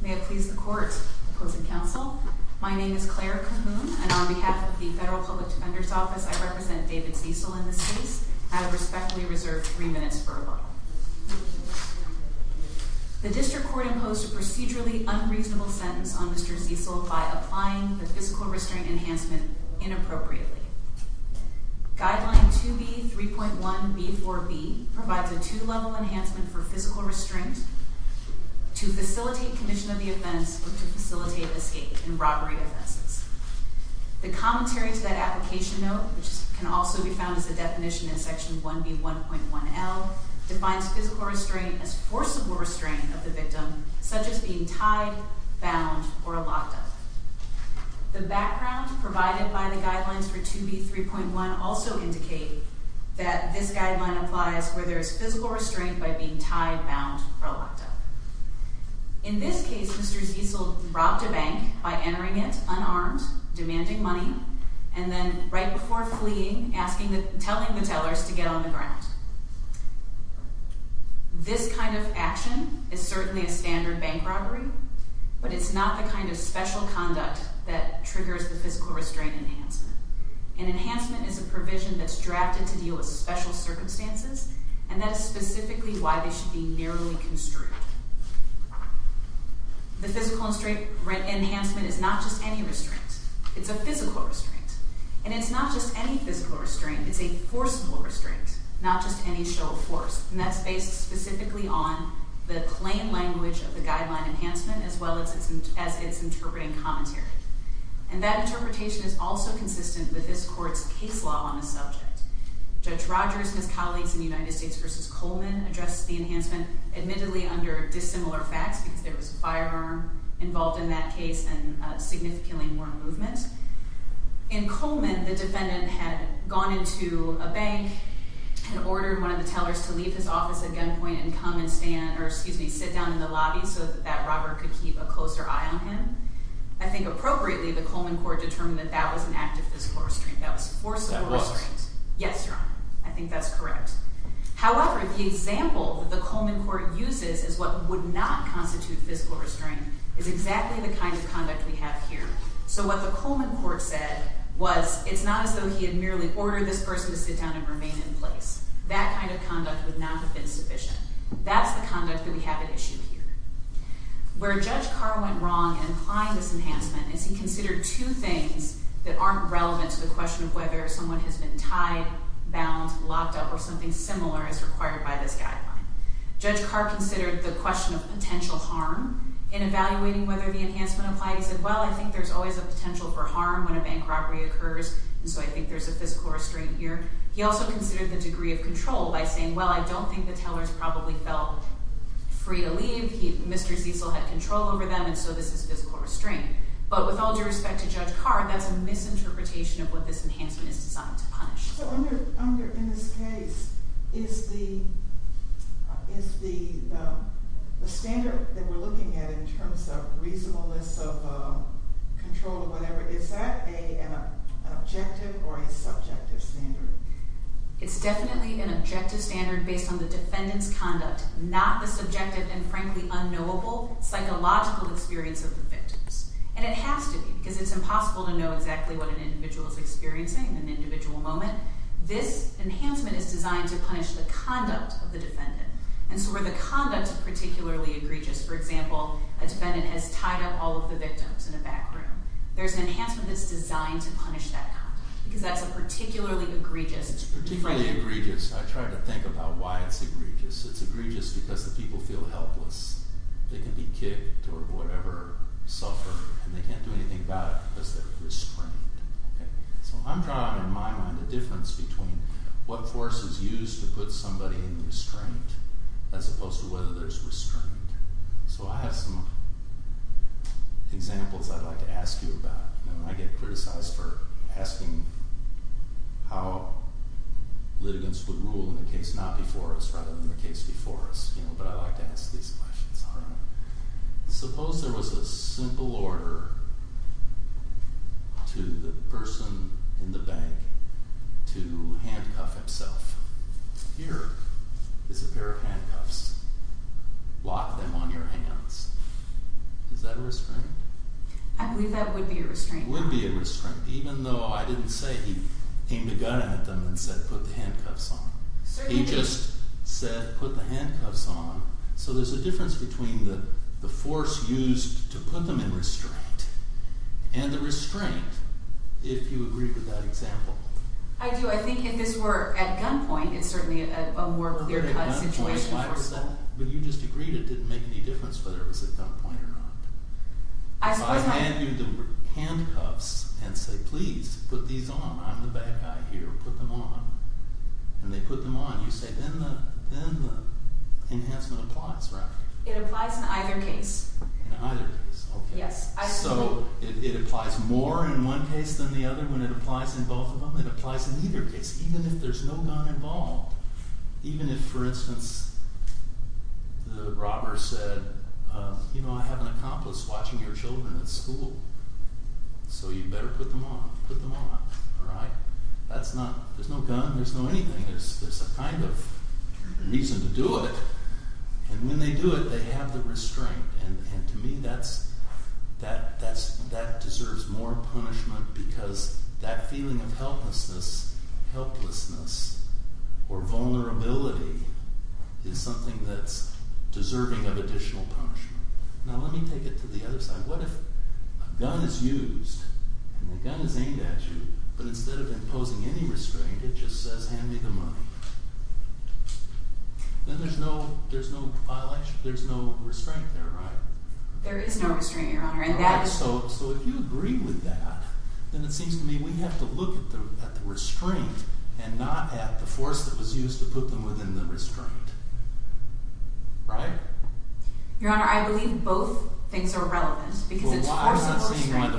May it please the court, opposing counsel, my name is Claire Cahoon, and on behalf of the Federal Public Defender's Office, I represent David Ziesel in this case. I respectfully reserve three minutes for a law. The district court imposed a procedurally unreasonable sentence on Mr. Ziesel by applying the physical restraint enhancement inappropriately. Guideline 2B.3.1.B.4.B provides a two-level enhancement for physical restraint to facilitate commission of the offense or to facilitate escape in robbery offenses. The commentary to that application note, which can also be found as a definition in Section 1B.1.1.L, defines physical restraint as forcible restraint of the victim, such as being tied, bound, or locked up. The background provided by the guidelines for 2B.3.1 also indicate that this guideline applies where there is physical restraint by being tied, bound, or locked up. In this case, Mr. Ziesel robbed a bank by entering it unarmed, demanding money, and then right before fleeing, asking the, telling the tellers to get on the ground. This kind of action is certainly a standard bank robbery, but it's not the kind of special conduct that triggers the physical restraint enhancement. An enhancement is a provision that's drafted to deal with special circumstances, and that is specifically why they should be narrowly construed. The physical restraint enhancement is not just any restraint. It's a physical restraint. And it's not just any physical restraint. It's a forcible restraint, not just any show of force. And that's based specifically on the plain language of the guideline enhancement as well as its interpreting commentary. And that interpretation is also consistent with this Court's case law on the subject. Judge Rogers and his colleagues in the United States v. Coleman addressed the enhancement admittedly under dissimilar facts because there was a firearm involved in that case and significantly more movement. In Coleman, the defendant had gone into a bank and ordered one of the tellers to leave his office at gunpoint and come and stand, or excuse me, sit down in the lobby so that that robber could keep a closer eye on him. I think appropriately, the Coleman court determined that that was an act of physical restraint. That was forcible restraint. That was? Yes, Your Honor. I think that's correct. However, the example that the Coleman court uses is what would not constitute physical restraint is exactly the kind of conduct we have here. So what the Coleman court said was it's not as though he had merely ordered this person to sit down and remain in place. That kind of conduct would not have been sufficient. That's the conduct that we have at issue here. Where Judge Carr went wrong in applying this enhancement is he considered two things that aren't relevant to the question of whether someone has been tied, bound, locked up, or something similar as required by this guideline. Judge Carr considered the question of potential harm in evaluating whether the enhancement applied. He said, well, I think there's always a potential for harm when a bank robbery occurs, and so I think there's a physical restraint here. He also considered the degree of control by saying, well, I don't think the tellers probably felt free to leave. Mr. Ziesel had control over them, and so this is physical restraint. But with all due respect to Judge Carr, that's a misinterpretation of what this enhancement is designed to punish. So in this case, is the standard that we're looking at in terms of reasonableness of control or whatever, is that an objective or a subjective standard? It's definitely an objective standard based on the defendant's conduct, not the subjective and frankly unknowable psychological experience of the victims. And it has to be, because it's impossible to know exactly what an individual is experiencing in an individual moment. This enhancement is designed to punish the conduct of the defendant. And so where the conduct is particularly egregious, for example, a defendant has tied up all of the victims in a back room. There's an enhancement that's designed to punish that conduct, because that's a particularly egregious… It's particularly egregious. I try to think about why it's egregious. It's egregious because the people feel helpless. They can be kicked or whatever, suffer, and they can't do anything about it because they're restrained. So I'm drawing in my mind a difference between what force is used to put somebody in restraint as opposed to whether there's restraint. So I have some examples I'd like to ask you about. I get criticized for asking how litigants would rule in a case not before us rather than the case before us, but I like to ask these questions. Suppose there was a simple order to the person in the bank to handcuff himself. Here is a pair of handcuffs. Lock them on your hands. Is that a restraint? I believe that would be a restraint. It would be a restraint, even though I didn't say he aimed a gun at them and said, put the handcuffs on. He just said, put the handcuffs on. So there's a difference between the force used to put them in restraint and the restraint, if you agree with that example. I do. I think if this were at gunpoint, it's certainly a more clear-cut situation. But you just agreed it didn't make any difference whether it was at gunpoint or not. If I hand you the handcuffs and say, please put these on, I'm the bad guy here, put them on, and they put them on, you say, then the enhancement applies, right? It applies in either case. In either case, okay. Yes. So it applies more in one case than the other when it applies in both of them? It applies in either case, even if there's no gun involved. Even if, for instance, the robber said, you know, I have an accomplice watching your children at school, so you better put them on. Put them on. All right? There's no gun. There's no anything. There's some kind of reason to do it. And when they do it, they have the restraint. And to me, that deserves more punishment because that feeling of helplessness or vulnerability is something that's deserving of additional punishment. Now, let me take it to the other side. What if a gun is used and the gun is aimed at you, but instead of imposing any restraint, it just says, hand me the money? Then there's no violation. There's no restraint there, right? There is no restraint, Your Honor. All right. So if you agree with that, then it seems to me we have to look at the restraint and not at the force that was used to put them within the restraint. Right? Your Honor, I believe both things are relevant because it's forceful restraint.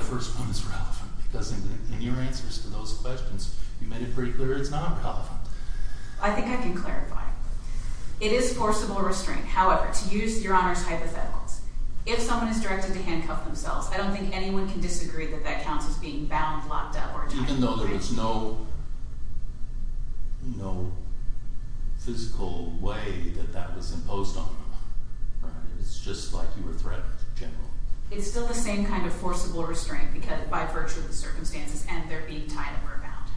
Because in your answers to those questions, you made it pretty clear it's not relevant. I think I can clarify. It is forcible restraint. However, to use Your Honor's hypotheticals, if someone is directed to handcuff themselves, I don't think anyone can disagree that that counts as being bound, locked up, or tied up. Even though there was no physical way that that was imposed on them. Right? It's just like you were threatened in general. It's still the same kind of forcible restraint because by virtue of the circumstances and their being tied up or bound.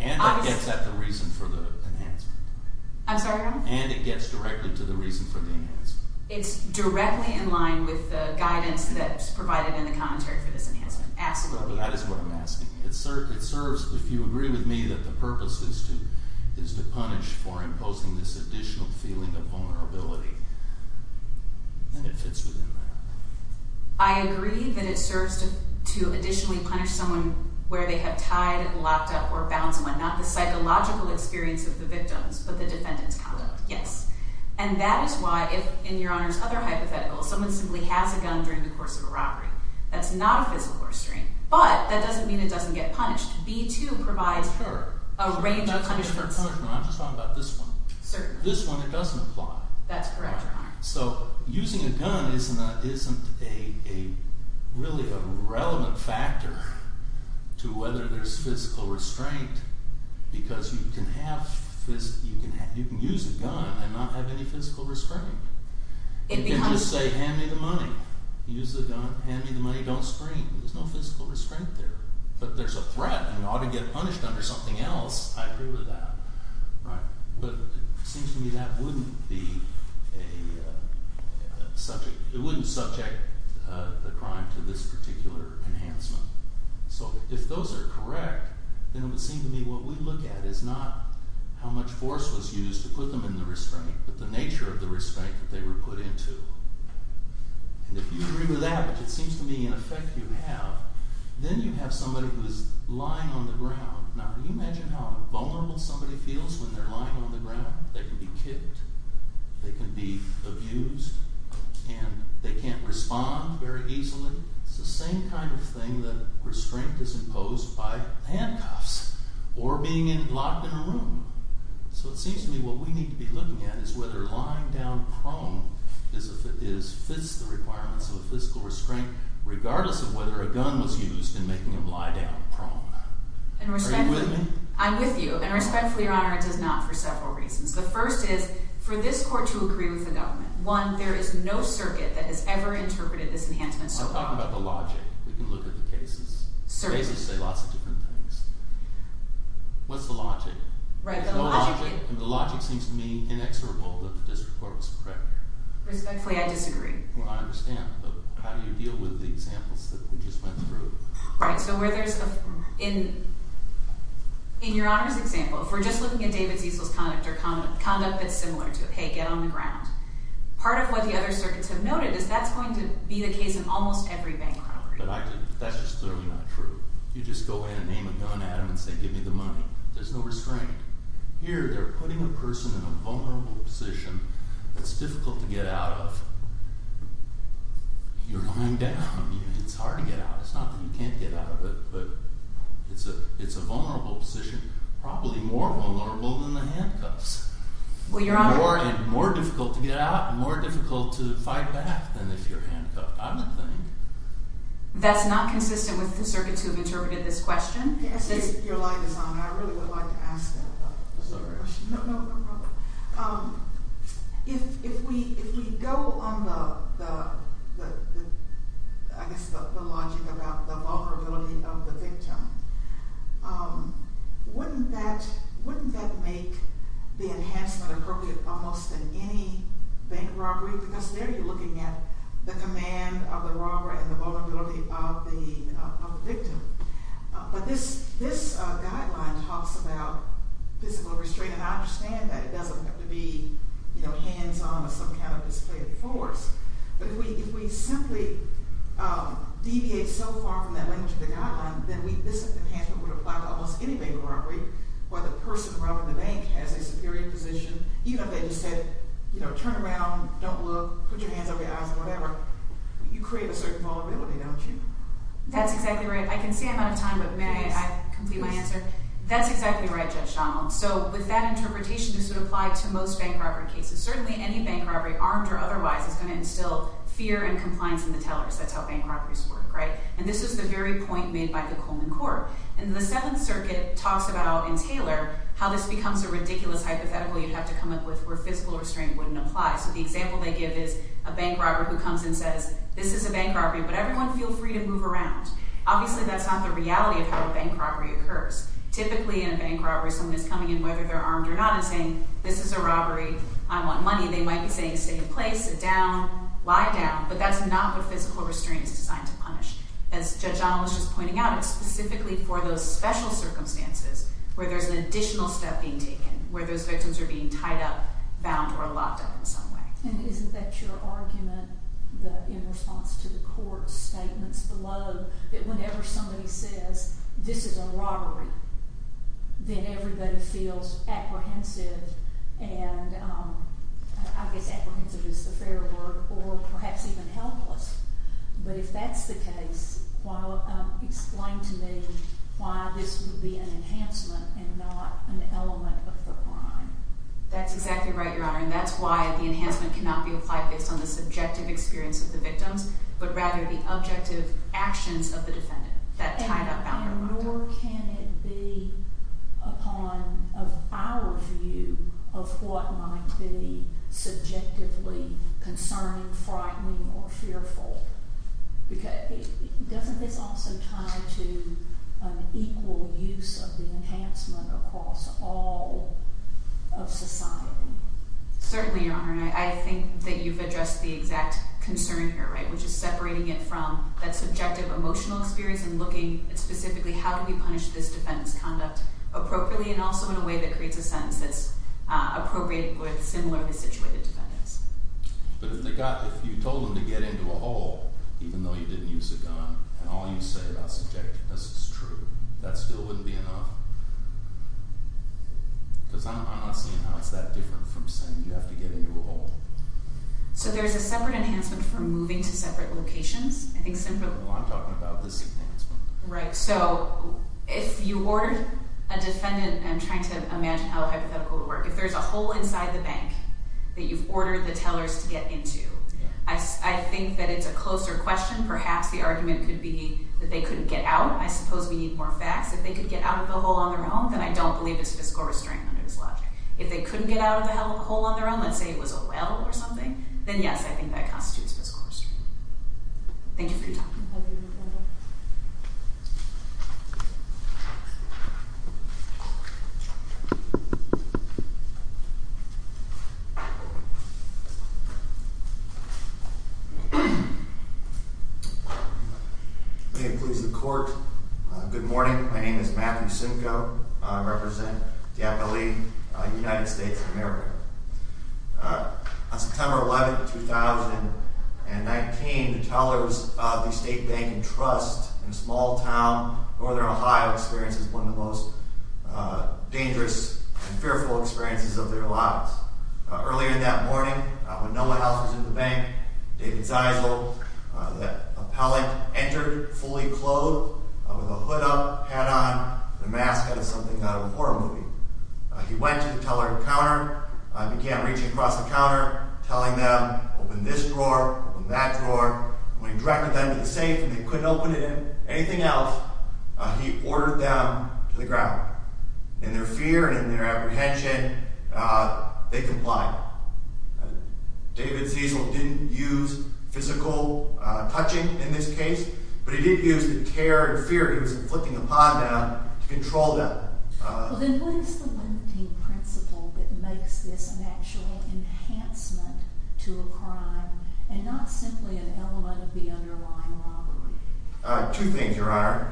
And it gets at the reason for the enhancement. I'm sorry, Your Honor? And it gets directly to the reason for the enhancement. It's directly in line with the guidance that's provided in the commentary for this enhancement. Absolutely. Well, that is what I'm asking. It serves, if you agree with me, that the purpose is to punish for imposing this additional feeling of vulnerability. And it fits within that. I agree that it serves to additionally punish someone where they have tied, locked up, or bound someone. Not the psychological experience of the victims, but the defendant's conduct. Yes. And that is why, in Your Honor's other hypotheticals, someone simply has a gun during the course of a robbery. That's not a physical restraint. But that doesn't mean it doesn't get punished. B-2 provides a range of punishments. I'm just talking about this one. Certainly. This one, it doesn't apply. That's correct, Your Honor. So using a gun isn't really a relevant factor to whether there's physical restraint. Because you can use a gun and not have any physical restraint. You can just say, hand me the money. Use the gun, hand me the money, don't scream. There's no physical restraint there. But there's a threat, and you ought to get punished under something else. I agree with that. But it seems to me that wouldn't subject the crime to this particular enhancement. So if those are correct, then it would seem to me what we look at is not how much force was used to put them in the restraint, but the nature of the restraint that they were put into. And if you agree with that, which it seems to me in effect you have, then you have somebody who is lying on the ground. Now can you imagine how vulnerable somebody feels when they're lying on the ground? They can be kicked. They can be abused. And they can't respond very easily. It's the same kind of thing that restraint is imposed by handcuffs or being locked in a room. So it seems to me what we need to be looking at is whether lying down prone fits the requirements of a physical restraint, regardless of whether a gun was used in making them lie down prone. Are you with me? I'm with you. And respectfully, Your Honor, it does not for several reasons. The first is for this court to agree with the government. One, there is no circuit that has ever interpreted this enhancement so wrong. I'm talking about the logic. We can look at the cases. Cases say lots of different things. What's the logic? Right. The logic seems to me inexorable that the district court was correct. Respectfully, I disagree. Well, I understand. But how do you deal with the examples that we just went through? Right. So where there's a – in Your Honor's example, if we're just looking at David Ziesel's conduct, or conduct that's similar to it, hey, get on the ground, part of what the other circuits have noted is that's going to be the case in almost every bank robbery. But that's just clearly not true. You just go in and aim a gun at him and say, give me the money. There's no restraint. Here they're putting a person in a vulnerable position that's difficult to get out of. You're lying down. It's hard to get out. It's not that you can't get out of it, but it's a vulnerable position, probably more vulnerable than the handcuffs. Well, Your Honor – More difficult to get out and more difficult to fight back than if you're handcuffed. I don't think – That's not consistent with the circuits who have interpreted this question? Your light is on. I really would like to ask that question. No, no, no problem. If we go on the – I guess the logic about the vulnerability of the victim, wouldn't that make the enhancement appropriate almost in any bank robbery? Because there you're looking at the command of the robber and the vulnerability of the victim. But this guideline talks about physical restraint, and I understand that it doesn't have to be hands-on or some kind of physical force. But if we simply deviate so far from that language of the guideline, then this enhancement would apply to almost any bank robbery where the person robbing the bank has a superior position. Even if they just said, turn around, don't look, put your hands over your eyes or whatever, you create a certain vulnerability, don't you? That's exactly right. I can see I'm out of time, but may I complete my answer? That's exactly right, Judge Donald. So with that interpretation, this would apply to most bank robbery cases. Certainly any bank robbery, armed or otherwise, is going to instill fear and compliance in the tellers. That's how bank robberies work, right? And this is the very point made by the Coleman Court. And the Seventh Circuit talks about, in Taylor, how this becomes a ridiculous hypothetical you'd have to come up with where physical restraint wouldn't apply. So the example they give is a bank robber who comes and says, this is a bank robbery, but everyone feel free to move around. Obviously that's not the reality of how a bank robbery occurs. Typically in a bank robbery, someone is coming in, whether they're armed or not, and saying, this is a robbery, I want money. They might be saying, stay in place, sit down, lie down. But that's not what physical restraint is designed to punish. As Judge Donald was just pointing out, it's specifically for those special circumstances where there's an additional step being taken, where those victims are being tied up, bound, or locked up in some way. And isn't that your argument, in response to the court's statements below, that whenever somebody says, this is a robbery, then everybody feels apprehensive and, I guess apprehensive is the fair word, or perhaps even helpless. But if that's the case, explain to me why this would be an enhancement and not an element of the crime. That's exactly right, Your Honor. And that's why the enhancement cannot be applied based on the subjective experience of the victims, but rather the objective actions of the defendant that tied up, bound, or locked up. And nor can it be upon our view of what might be subjectively concerning, frightening, or fearful. Doesn't this also tie to an equal use of the enhancement across all of society? Certainly, Your Honor. I think that you've addressed the exact concern here, right? Which is separating it from that subjective emotional experience and looking at specifically how do we punish this defendant's conduct appropriately and also in a way that creates a sentence that's appropriate with similarly situated defendants. But if you told them to get into a hole, even though you didn't use a gun, and all you say about subjectiveness is true, that still wouldn't be enough? Because I'm not seeing how it's that different from saying you have to get into a hole. So there's a separate enhancement for moving to separate locations? Well, I'm talking about this enhancement. Right. So if you ordered a defendant, and I'm trying to imagine how hypothetical it would work, if there's a hole inside the bank that you've ordered the tellers to get into, I think that it's a closer question. Perhaps the argument could be that they couldn't get out. I suppose we need more facts. If they could get out of the hole on their own, then I don't believe it's fiscal restraint under this logic. If they couldn't get out of the hole on their own, let's say it was a well or something, then yes, I think that constitutes fiscal restraint. Thank you for your time. May it please the court, good morning. My name is Matthew Simcoe. I represent the FLE United States of America. On September 11, 2019, the tellers of the State Bank and Trust in a small town in northern Ohio experienced one of the most dangerous and fearful experiences of their lives. Earlier that morning, when no one else was at the bank, David Zeisel, the appellate, entered fully clothed, with a hood up, hat on, and a mask out of something out of a horror movie. He went to the teller at the counter, began reaching across the counter, telling them, open this drawer, open that drawer. When he directed them to the safe, and they couldn't open it in anything else, he ordered them to the ground. In their fear and in their apprehension, they complied. David Zeisel didn't use physical touching in this case, but he did use the terror and fear he was inflicting upon them to control them. Then what is the limiting principle that makes this an actual enhancement to a crime, and not simply an element of the underlying robbery? Two things, Your Honor.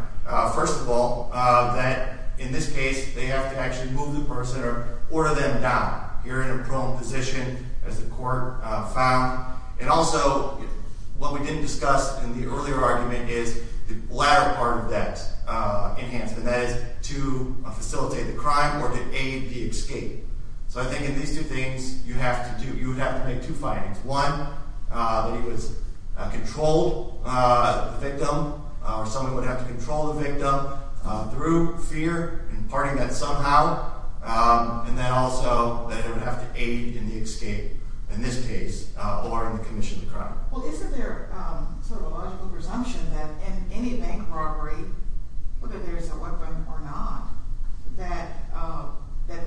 First of all, that in this case, they have to actually move the person or order them down. You're in a prone position, as the court found. And also, what we didn't discuss in the earlier argument is the latter part of that enhancement, that is, to facilitate the crime or to aid the escape. So I think in these two things, you would have to make two findings. One, that he controlled the victim, or someone would have to control the victim through fear, imparting that somehow, and then also that it would have to aid in the escape in this case or in the commission of the crime. Well, isn't there sort of a logical presumption that in any bank robbery, whether there's a weapon or not, that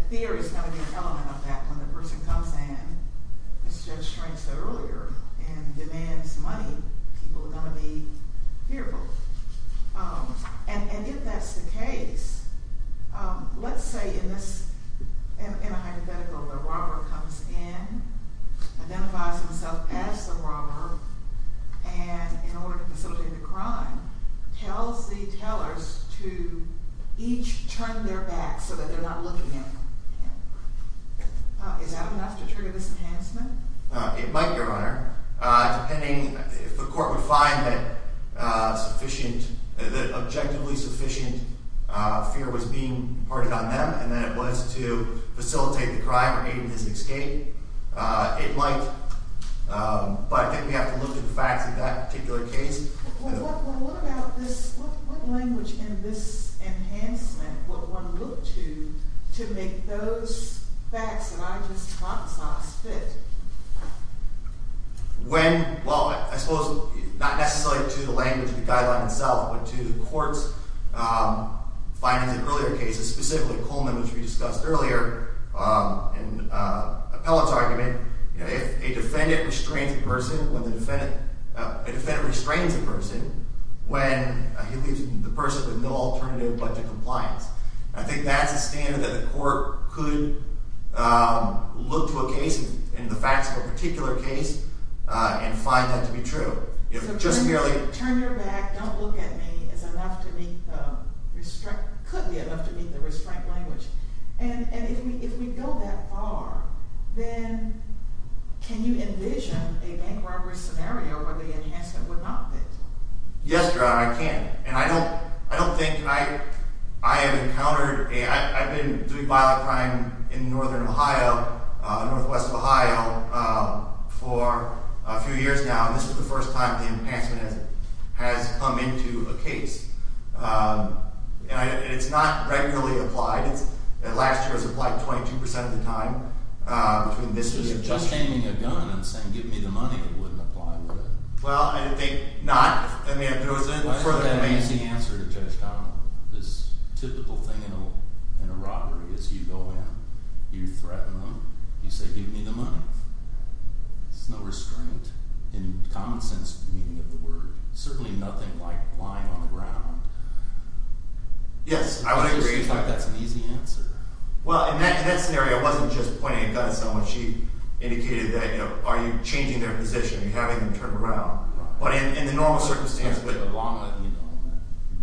fear is going to be an element of that and when the person comes in, as Judge Strange said earlier, and demands money, people are going to be fearful. And if that's the case, let's say in a hypothetical, the robber comes in, identifies himself as the robber, and in order to facilitate the crime, tells the tellers to each turn their back so that they're not looking at him. Is that enough to trigger this enhancement? It might, Your Honor. Depending if the court would find that objectively sufficient fear was being imparted on them and that it was to facilitate the crime or aid in his escape, it might. But I think we have to look at the facts of that particular case. What language in this enhancement would one look to to make those facts that I just talked about fit? Well, I suppose not necessarily to the language of the guideline itself, but to the court's findings in earlier cases, specifically Coleman, which we discussed earlier, and Appellant's argument. A defendant restrains a person when he leaves the person with no alternative but to compliance. I think that's a standard that the court could look to a case, and the facts of a particular case, and find that to be true. So turn your back, don't look at me, is enough to meet the restraint, could be enough to meet the restraint language. And if we go that far, then can you envision a bank robbery scenario where the enhancement would not fit? Yes, Your Honor, I can. And I don't think I have encountered a— I've been doing violent crime in northern Ohio, northwest Ohio, for a few years now, and this is the first time the enhancement has come into a case. And it's not regularly applied. Last year it was applied 22% of the time. Between this year and— If you're just aiming a gun and saying, give me the money, it wouldn't apply, would it? Well, I think not. I mean, it was— That's an amazing answer to Judge Connell. This typical thing in a robbery is you go in, you threaten them, you say, give me the money. There's no restraint in common sense meaning of the word. Certainly nothing like lying on the ground. Yes, I would agree. I just think that's an easy answer. Well, in that scenario, it wasn't just pointing a gun at someone. She indicated that, you know, are you changing their position and having them turn around? But in the normal circumstance—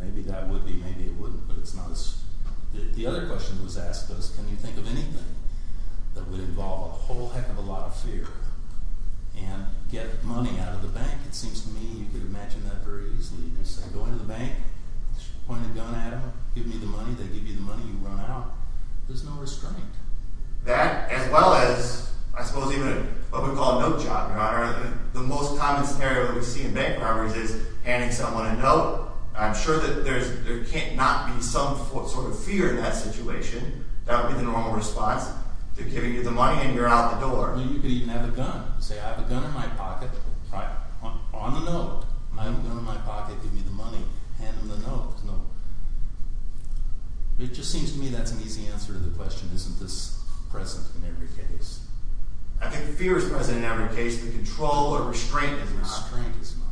Maybe that would be, maybe it wouldn't, but it's not as— The other question that was asked was can you think of anything that would involve a whole heck of a lot of fear and get money out of the bank? It seems to me you could imagine that very easily. You just say, go into the bank, point a gun at them, give me the money, they give you the money, you run out. There's no restraint. That, as well as I suppose even what we call a note job, Your Honor, the most common scenario that we see in bank robberies is handing someone a note. I'm sure that there can't not be some sort of fear in that situation. That would be the normal response. They're giving you the money and you're out the door. Or you could even have a gun. Say, I have a gun in my pocket. On the note. I have a gun in my pocket. Give me the money. Hand them the note. Note. It just seems to me that's an easy answer to the question, isn't this present in every case? I think fear is present in every case. The control or restraint is not.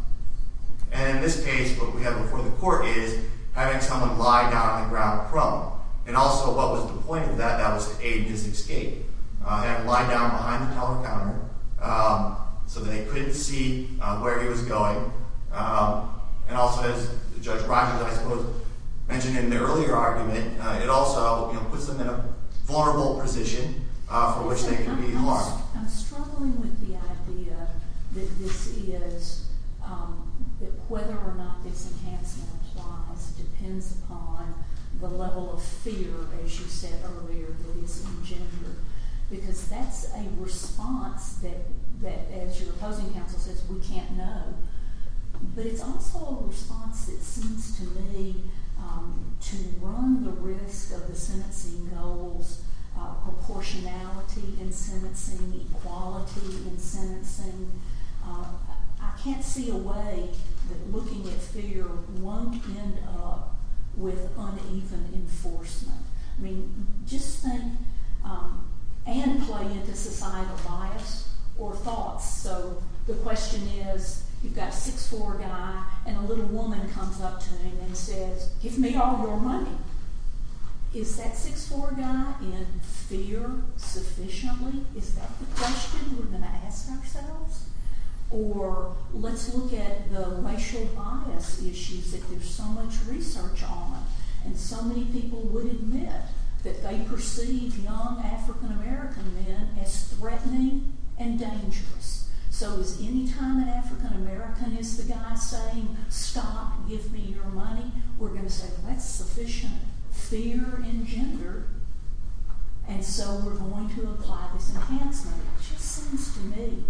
And in this case, what we have before the court is having someone lie down on the ground prone. And also what was the point of that? That was to aid his escape. They had him lie down behind the counter so that they couldn't see where he was going. And also, as Judge Rogers, I suppose, mentioned in the earlier argument, it also puts them in a vulnerable position for which they could be harmed. I'm struggling with the idea that this is whether or not this enhancement applies. It depends upon the level of fear, as you said earlier, that is engendered. Because that's a response that, as your opposing counsel says, we can't know. But it's also a response that seems to me to run the risk of the sentencing goals, proportionality in sentencing, equality in sentencing. I can't see a way that looking at fear won't end up with uneven enforcement. Just think and play into societal bias or thoughts. So the question is, you've got a 6'4 guy, and a little woman comes up to him and says, give me all your money. Is that 6'4 guy in fear sufficiently? Is that the question we're going to ask ourselves? Or let's look at the racial bias issues that there's so much research on. And so many people would admit that they perceive young African American men as threatening and dangerous. So is any time an African American is the guy saying, stop, give me your money, we're going to say, well, that's sufficient fear engendered. And so we're going to apply this enhancement. It just seems to me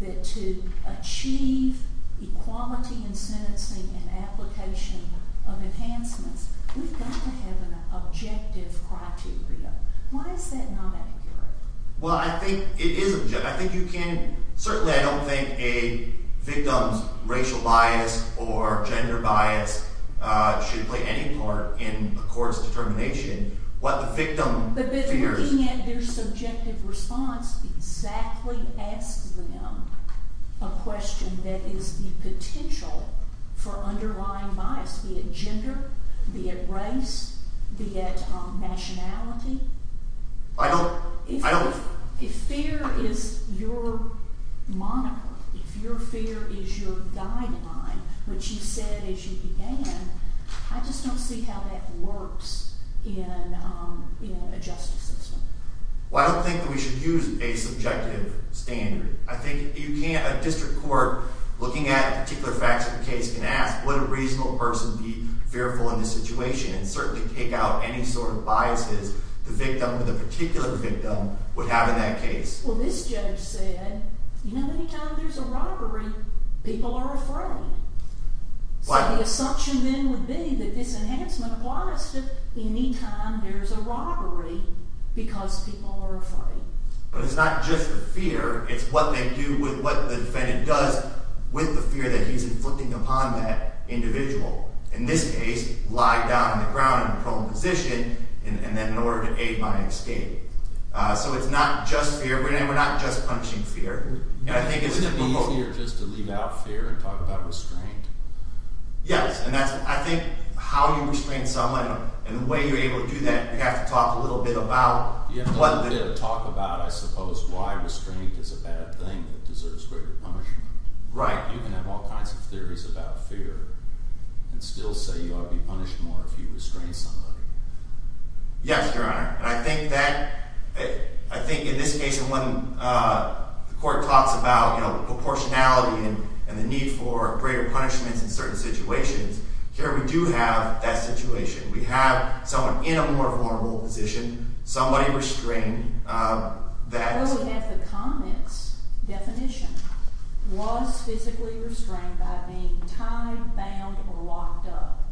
that to achieve equality in sentencing and application of enhancements, we've got to have an objective criteria. Why is that not accurate? Well, I think it is objective. Certainly I don't think a victim's racial bias or gender bias should play any part in a court's determination. But looking at their subjective response, exactly ask them a question that is the potential for underlying bias, be it gender, be it race, be it nationality. If fear is your moniker, if your fear is your guideline, which you said as you began, I just don't see how that works in a justice system. Well, I don't think that we should use a subjective standard. I think a district court looking at particular facts of the case can ask, would a reasonable person be fearful in this situation and certainly take out any sort of biases the victim or the particular victim would have in that case. Well, this judge said, you know, any time there's a robbery, people are afraid. So the assumption then would be that this enhancement applies to any time there's a robbery because people are afraid. But it's not just the fear. It's what they do with what the defendant does with the fear that he's inflicting upon that individual. In this case, lie down on the ground in a prone position and then in order to aid my escape. So it's not just fear. We're not just punishing fear. Would it be easier just to leave out fear and talk about restraint? Yes. I think how you restrain someone and the way you're able to do that, you have to talk a little bit about. You have to talk about, I suppose, why restraint is a bad thing that deserves greater punishment. Right. You can have all kinds of theories about fear and still say you ought to be punished more if you restrain somebody. Yes, Your Honor. And I think that, I think in this case when the court talks about proportionality and the need for greater punishments in certain situations, here we do have that situation. We have someone in a more vulnerable position, somebody restrained that. What if the comment's definition was physically restrained by being tied, bound, or locked up?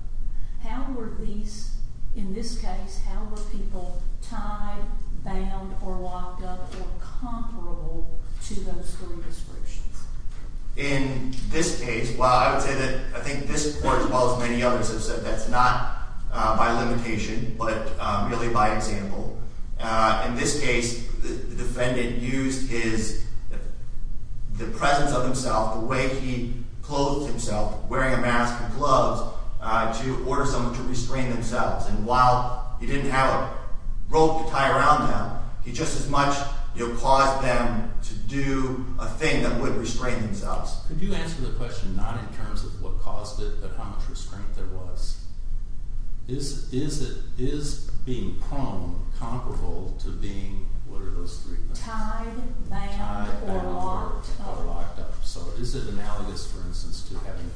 How were these, in this case, how were people tied, bound, or locked up or comparable to those three descriptions? In this case, while I would say that I think this court as well as many others have said that's not by limitation but merely by example. In this case, the defendant used his, the presence of himself, the way he clothed himself, wearing a mask and gloves, to order someone to restrain themselves. And while he didn't have a rope to tie around him, he just as much caused them to do a thing that would restrain themselves. Could you answer the question not in terms of what caused it but how much restraint there was? Is being prone comparable to being, what are those three? Tied, bound, or locked up. So is it analogous, for instance, to having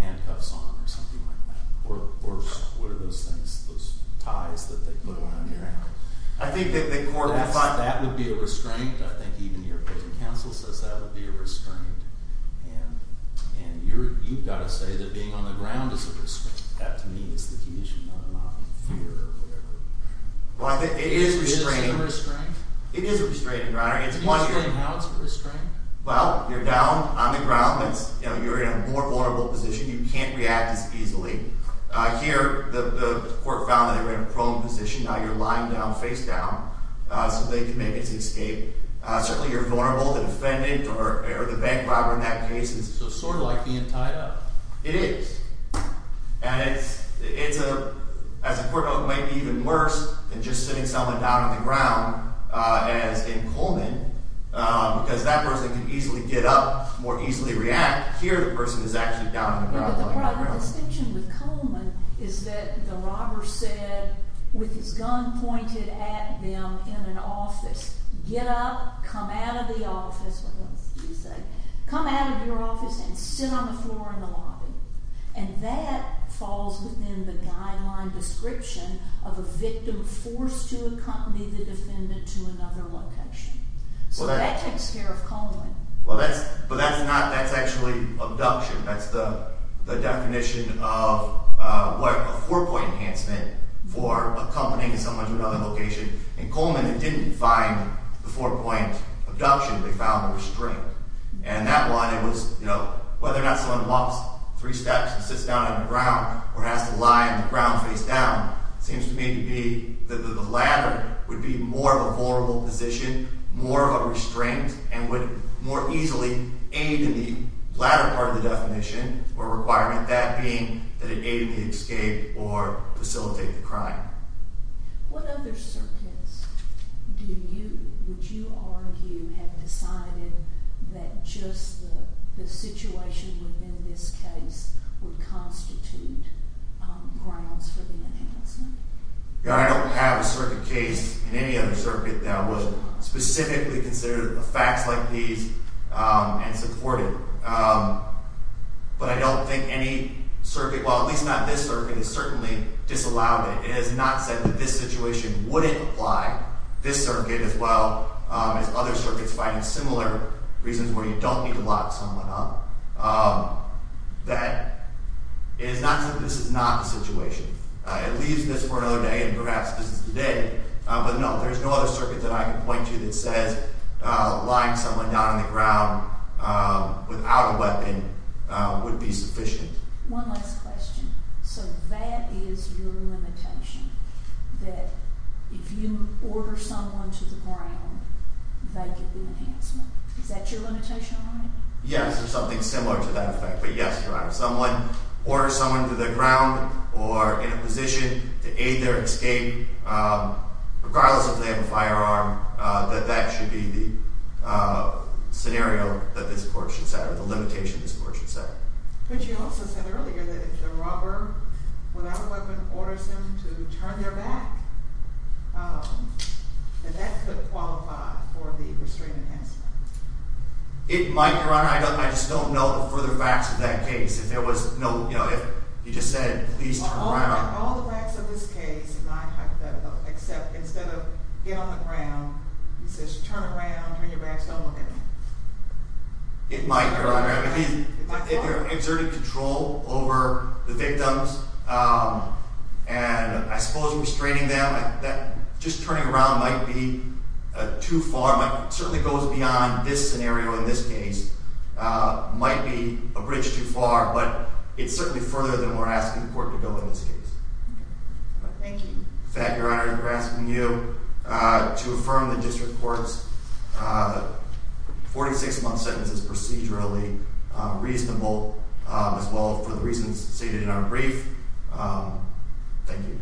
handcuffs on or something like that? Or what are those things, those ties that they put around your hand? I think that the court thought that would be a restraint. I think even your prison counsel says that would be a restraint. And you've got to say that being on the ground is a restraint. That, to me, is the key issue, not fear or whatever. Well, I think it is a restraint. Is it the same restraint? It is a restraint. Can you explain how it's a restraint? Well, you're down on the ground. You're in a more vulnerable position. You can't react as easily. Here, the court found that they were in a prone position. Now you're lying down, face down, so they can make an escape. Certainly, you're vulnerable. The defendant or the bank robber in that case is... So it's sort of like being tied up. It is. And as a court note, it might be even worse than just sitting someone down on the ground as in Coleman, because that person could easily get up, more easily react. Here, the person is actually down on the ground. But the distinction with Coleman is that the robber said, with his gun pointed at them in an office, get up, come out of the office. What else did he say? And that falls within the guideline description of a victim forced to accompany the defendant to another location. So that takes care of Coleman. But that's not... that's actually abduction. That's the definition of a four-point enhancement for accompanying someone to another location. In Coleman, they didn't find the four-point abduction. They found a restraint. And that one, it was, you know, whether or not someone walks three steps and sits down on the ground or has to lie on the ground face down, it seems to me to be that the latter would be more of a vulnerable position, more of a restraint, and would more easily aid in the latter part of the definition or requirement, that being that it aided the escape or facilitate the crime. What other circuits do you... would you argue have decided that just the situation within this case would constitute grounds for the enhancement? I don't have a circuit case in any other circuit that would specifically consider facts like these and support it. But I don't think any circuit, well, at least not this circuit, has certainly disallowed it. It has not said that this situation wouldn't apply. This circuit, as well as other circuits finding similar reasons where you don't need to lock someone up, that... it has not said that this is not the situation. It leaves this for another day, and perhaps this is the day. But, no, there's no other circuit that I can point to that says lying someone down on the ground without a weapon would be sufficient. One last question. So that is your limitation, that if you order someone to the ground, they get the enhancement. Is that your limitation on it? Yes, or something similar to that effect. But, yes, Your Honor, if someone orders someone to the ground or in a position to aid their escape, regardless if they have a firearm, that that should be the scenario that this court should set or the limitation this court should set. But you also said earlier that if the robber, without a weapon, orders him to turn their back, that that could qualify for the restraining enhancement. It might, Your Honor. I just don't know the further facts of that case. If there was no... you know, if you just said, please turn around... All the facts of this case are not hypothetical, except instead of get on the ground, he says, turn around, turn your back, don't look at me. It might, Your Honor. If he exerted control over the victims and, I suppose, restraining them, that just turning around might be too far. It certainly goes beyond this scenario in this case. It might be a bridge too far, but it's certainly further than we're asking the court to go in this case. Thank you. In fact, Your Honor, I'm asking you to affirm the district court's 46-month sentence as procedurally reasonable, as well for the reasons stated in our brief. Thank you.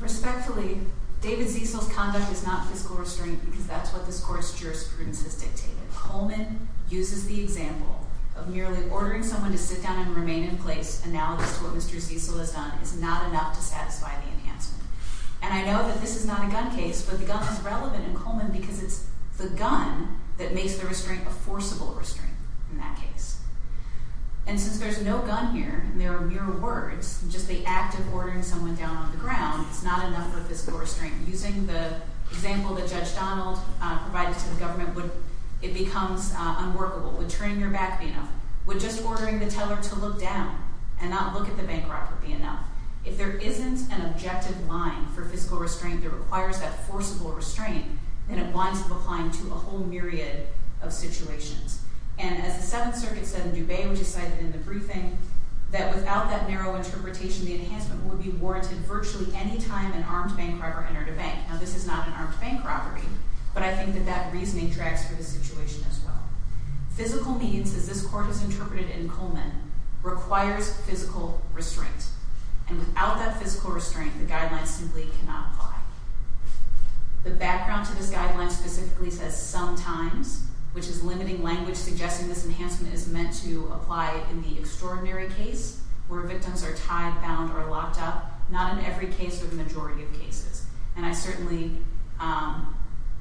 Respectfully, David Ziesel's conduct is not fiscal restraint because that's what this court's jurisprudence has dictated. Coleman uses the example of merely ordering someone to sit down and remain in place, analogous to what Mr. Ziesel has done, is not enough to satisfy the enhancement. And I know that this is not a gun case, but the gun is relevant in Coleman because it's the gun that makes the restraint a forcible restraint in that case. And since there's no gun here and there are mere words, just the act of ordering someone down on the ground is not enough of a fiscal restraint. Using the example that Judge Donald provided to the government, it becomes unworkable. Would turning your back be enough? Would just ordering the teller to look down and not look at the bank record be enough? If there isn't an objective line for fiscal restraint that requires that forcible restraint, then it winds up applying to a whole myriad of situations. And as the Seventh Circuit said in Dubay, which is cited in the briefing, that without that narrow interpretation, the enhancement would be warranted virtually any time an armed bank robber entered a bank. Now, this is not an armed bank robbery, but I think that that reasoning tracks for the situation as well. Physical means, as this court has interpreted in Coleman, requires physical restraint. And without that physical restraint, the guidelines simply cannot apply. The background to this guideline specifically says sometimes, which is limiting language suggesting this enhancement is meant to apply in the extraordinary case where victims are tied, bound, or locked up, not in every case or the majority of cases. And I certainly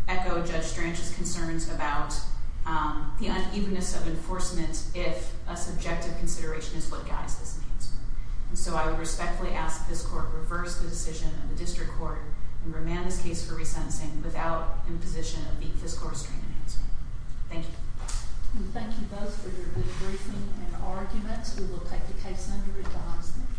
echo Judge Stranch's concerns about the unevenness of enforcement if a subjective consideration is what guides this enhancement. And so I would respectfully ask this court to reverse the decision of the district court and remand this case for re-sensing without imposition of being fiscal restraint enhancement. Thank you. We thank you both for your good briefing and arguments. We will take the case under written observation.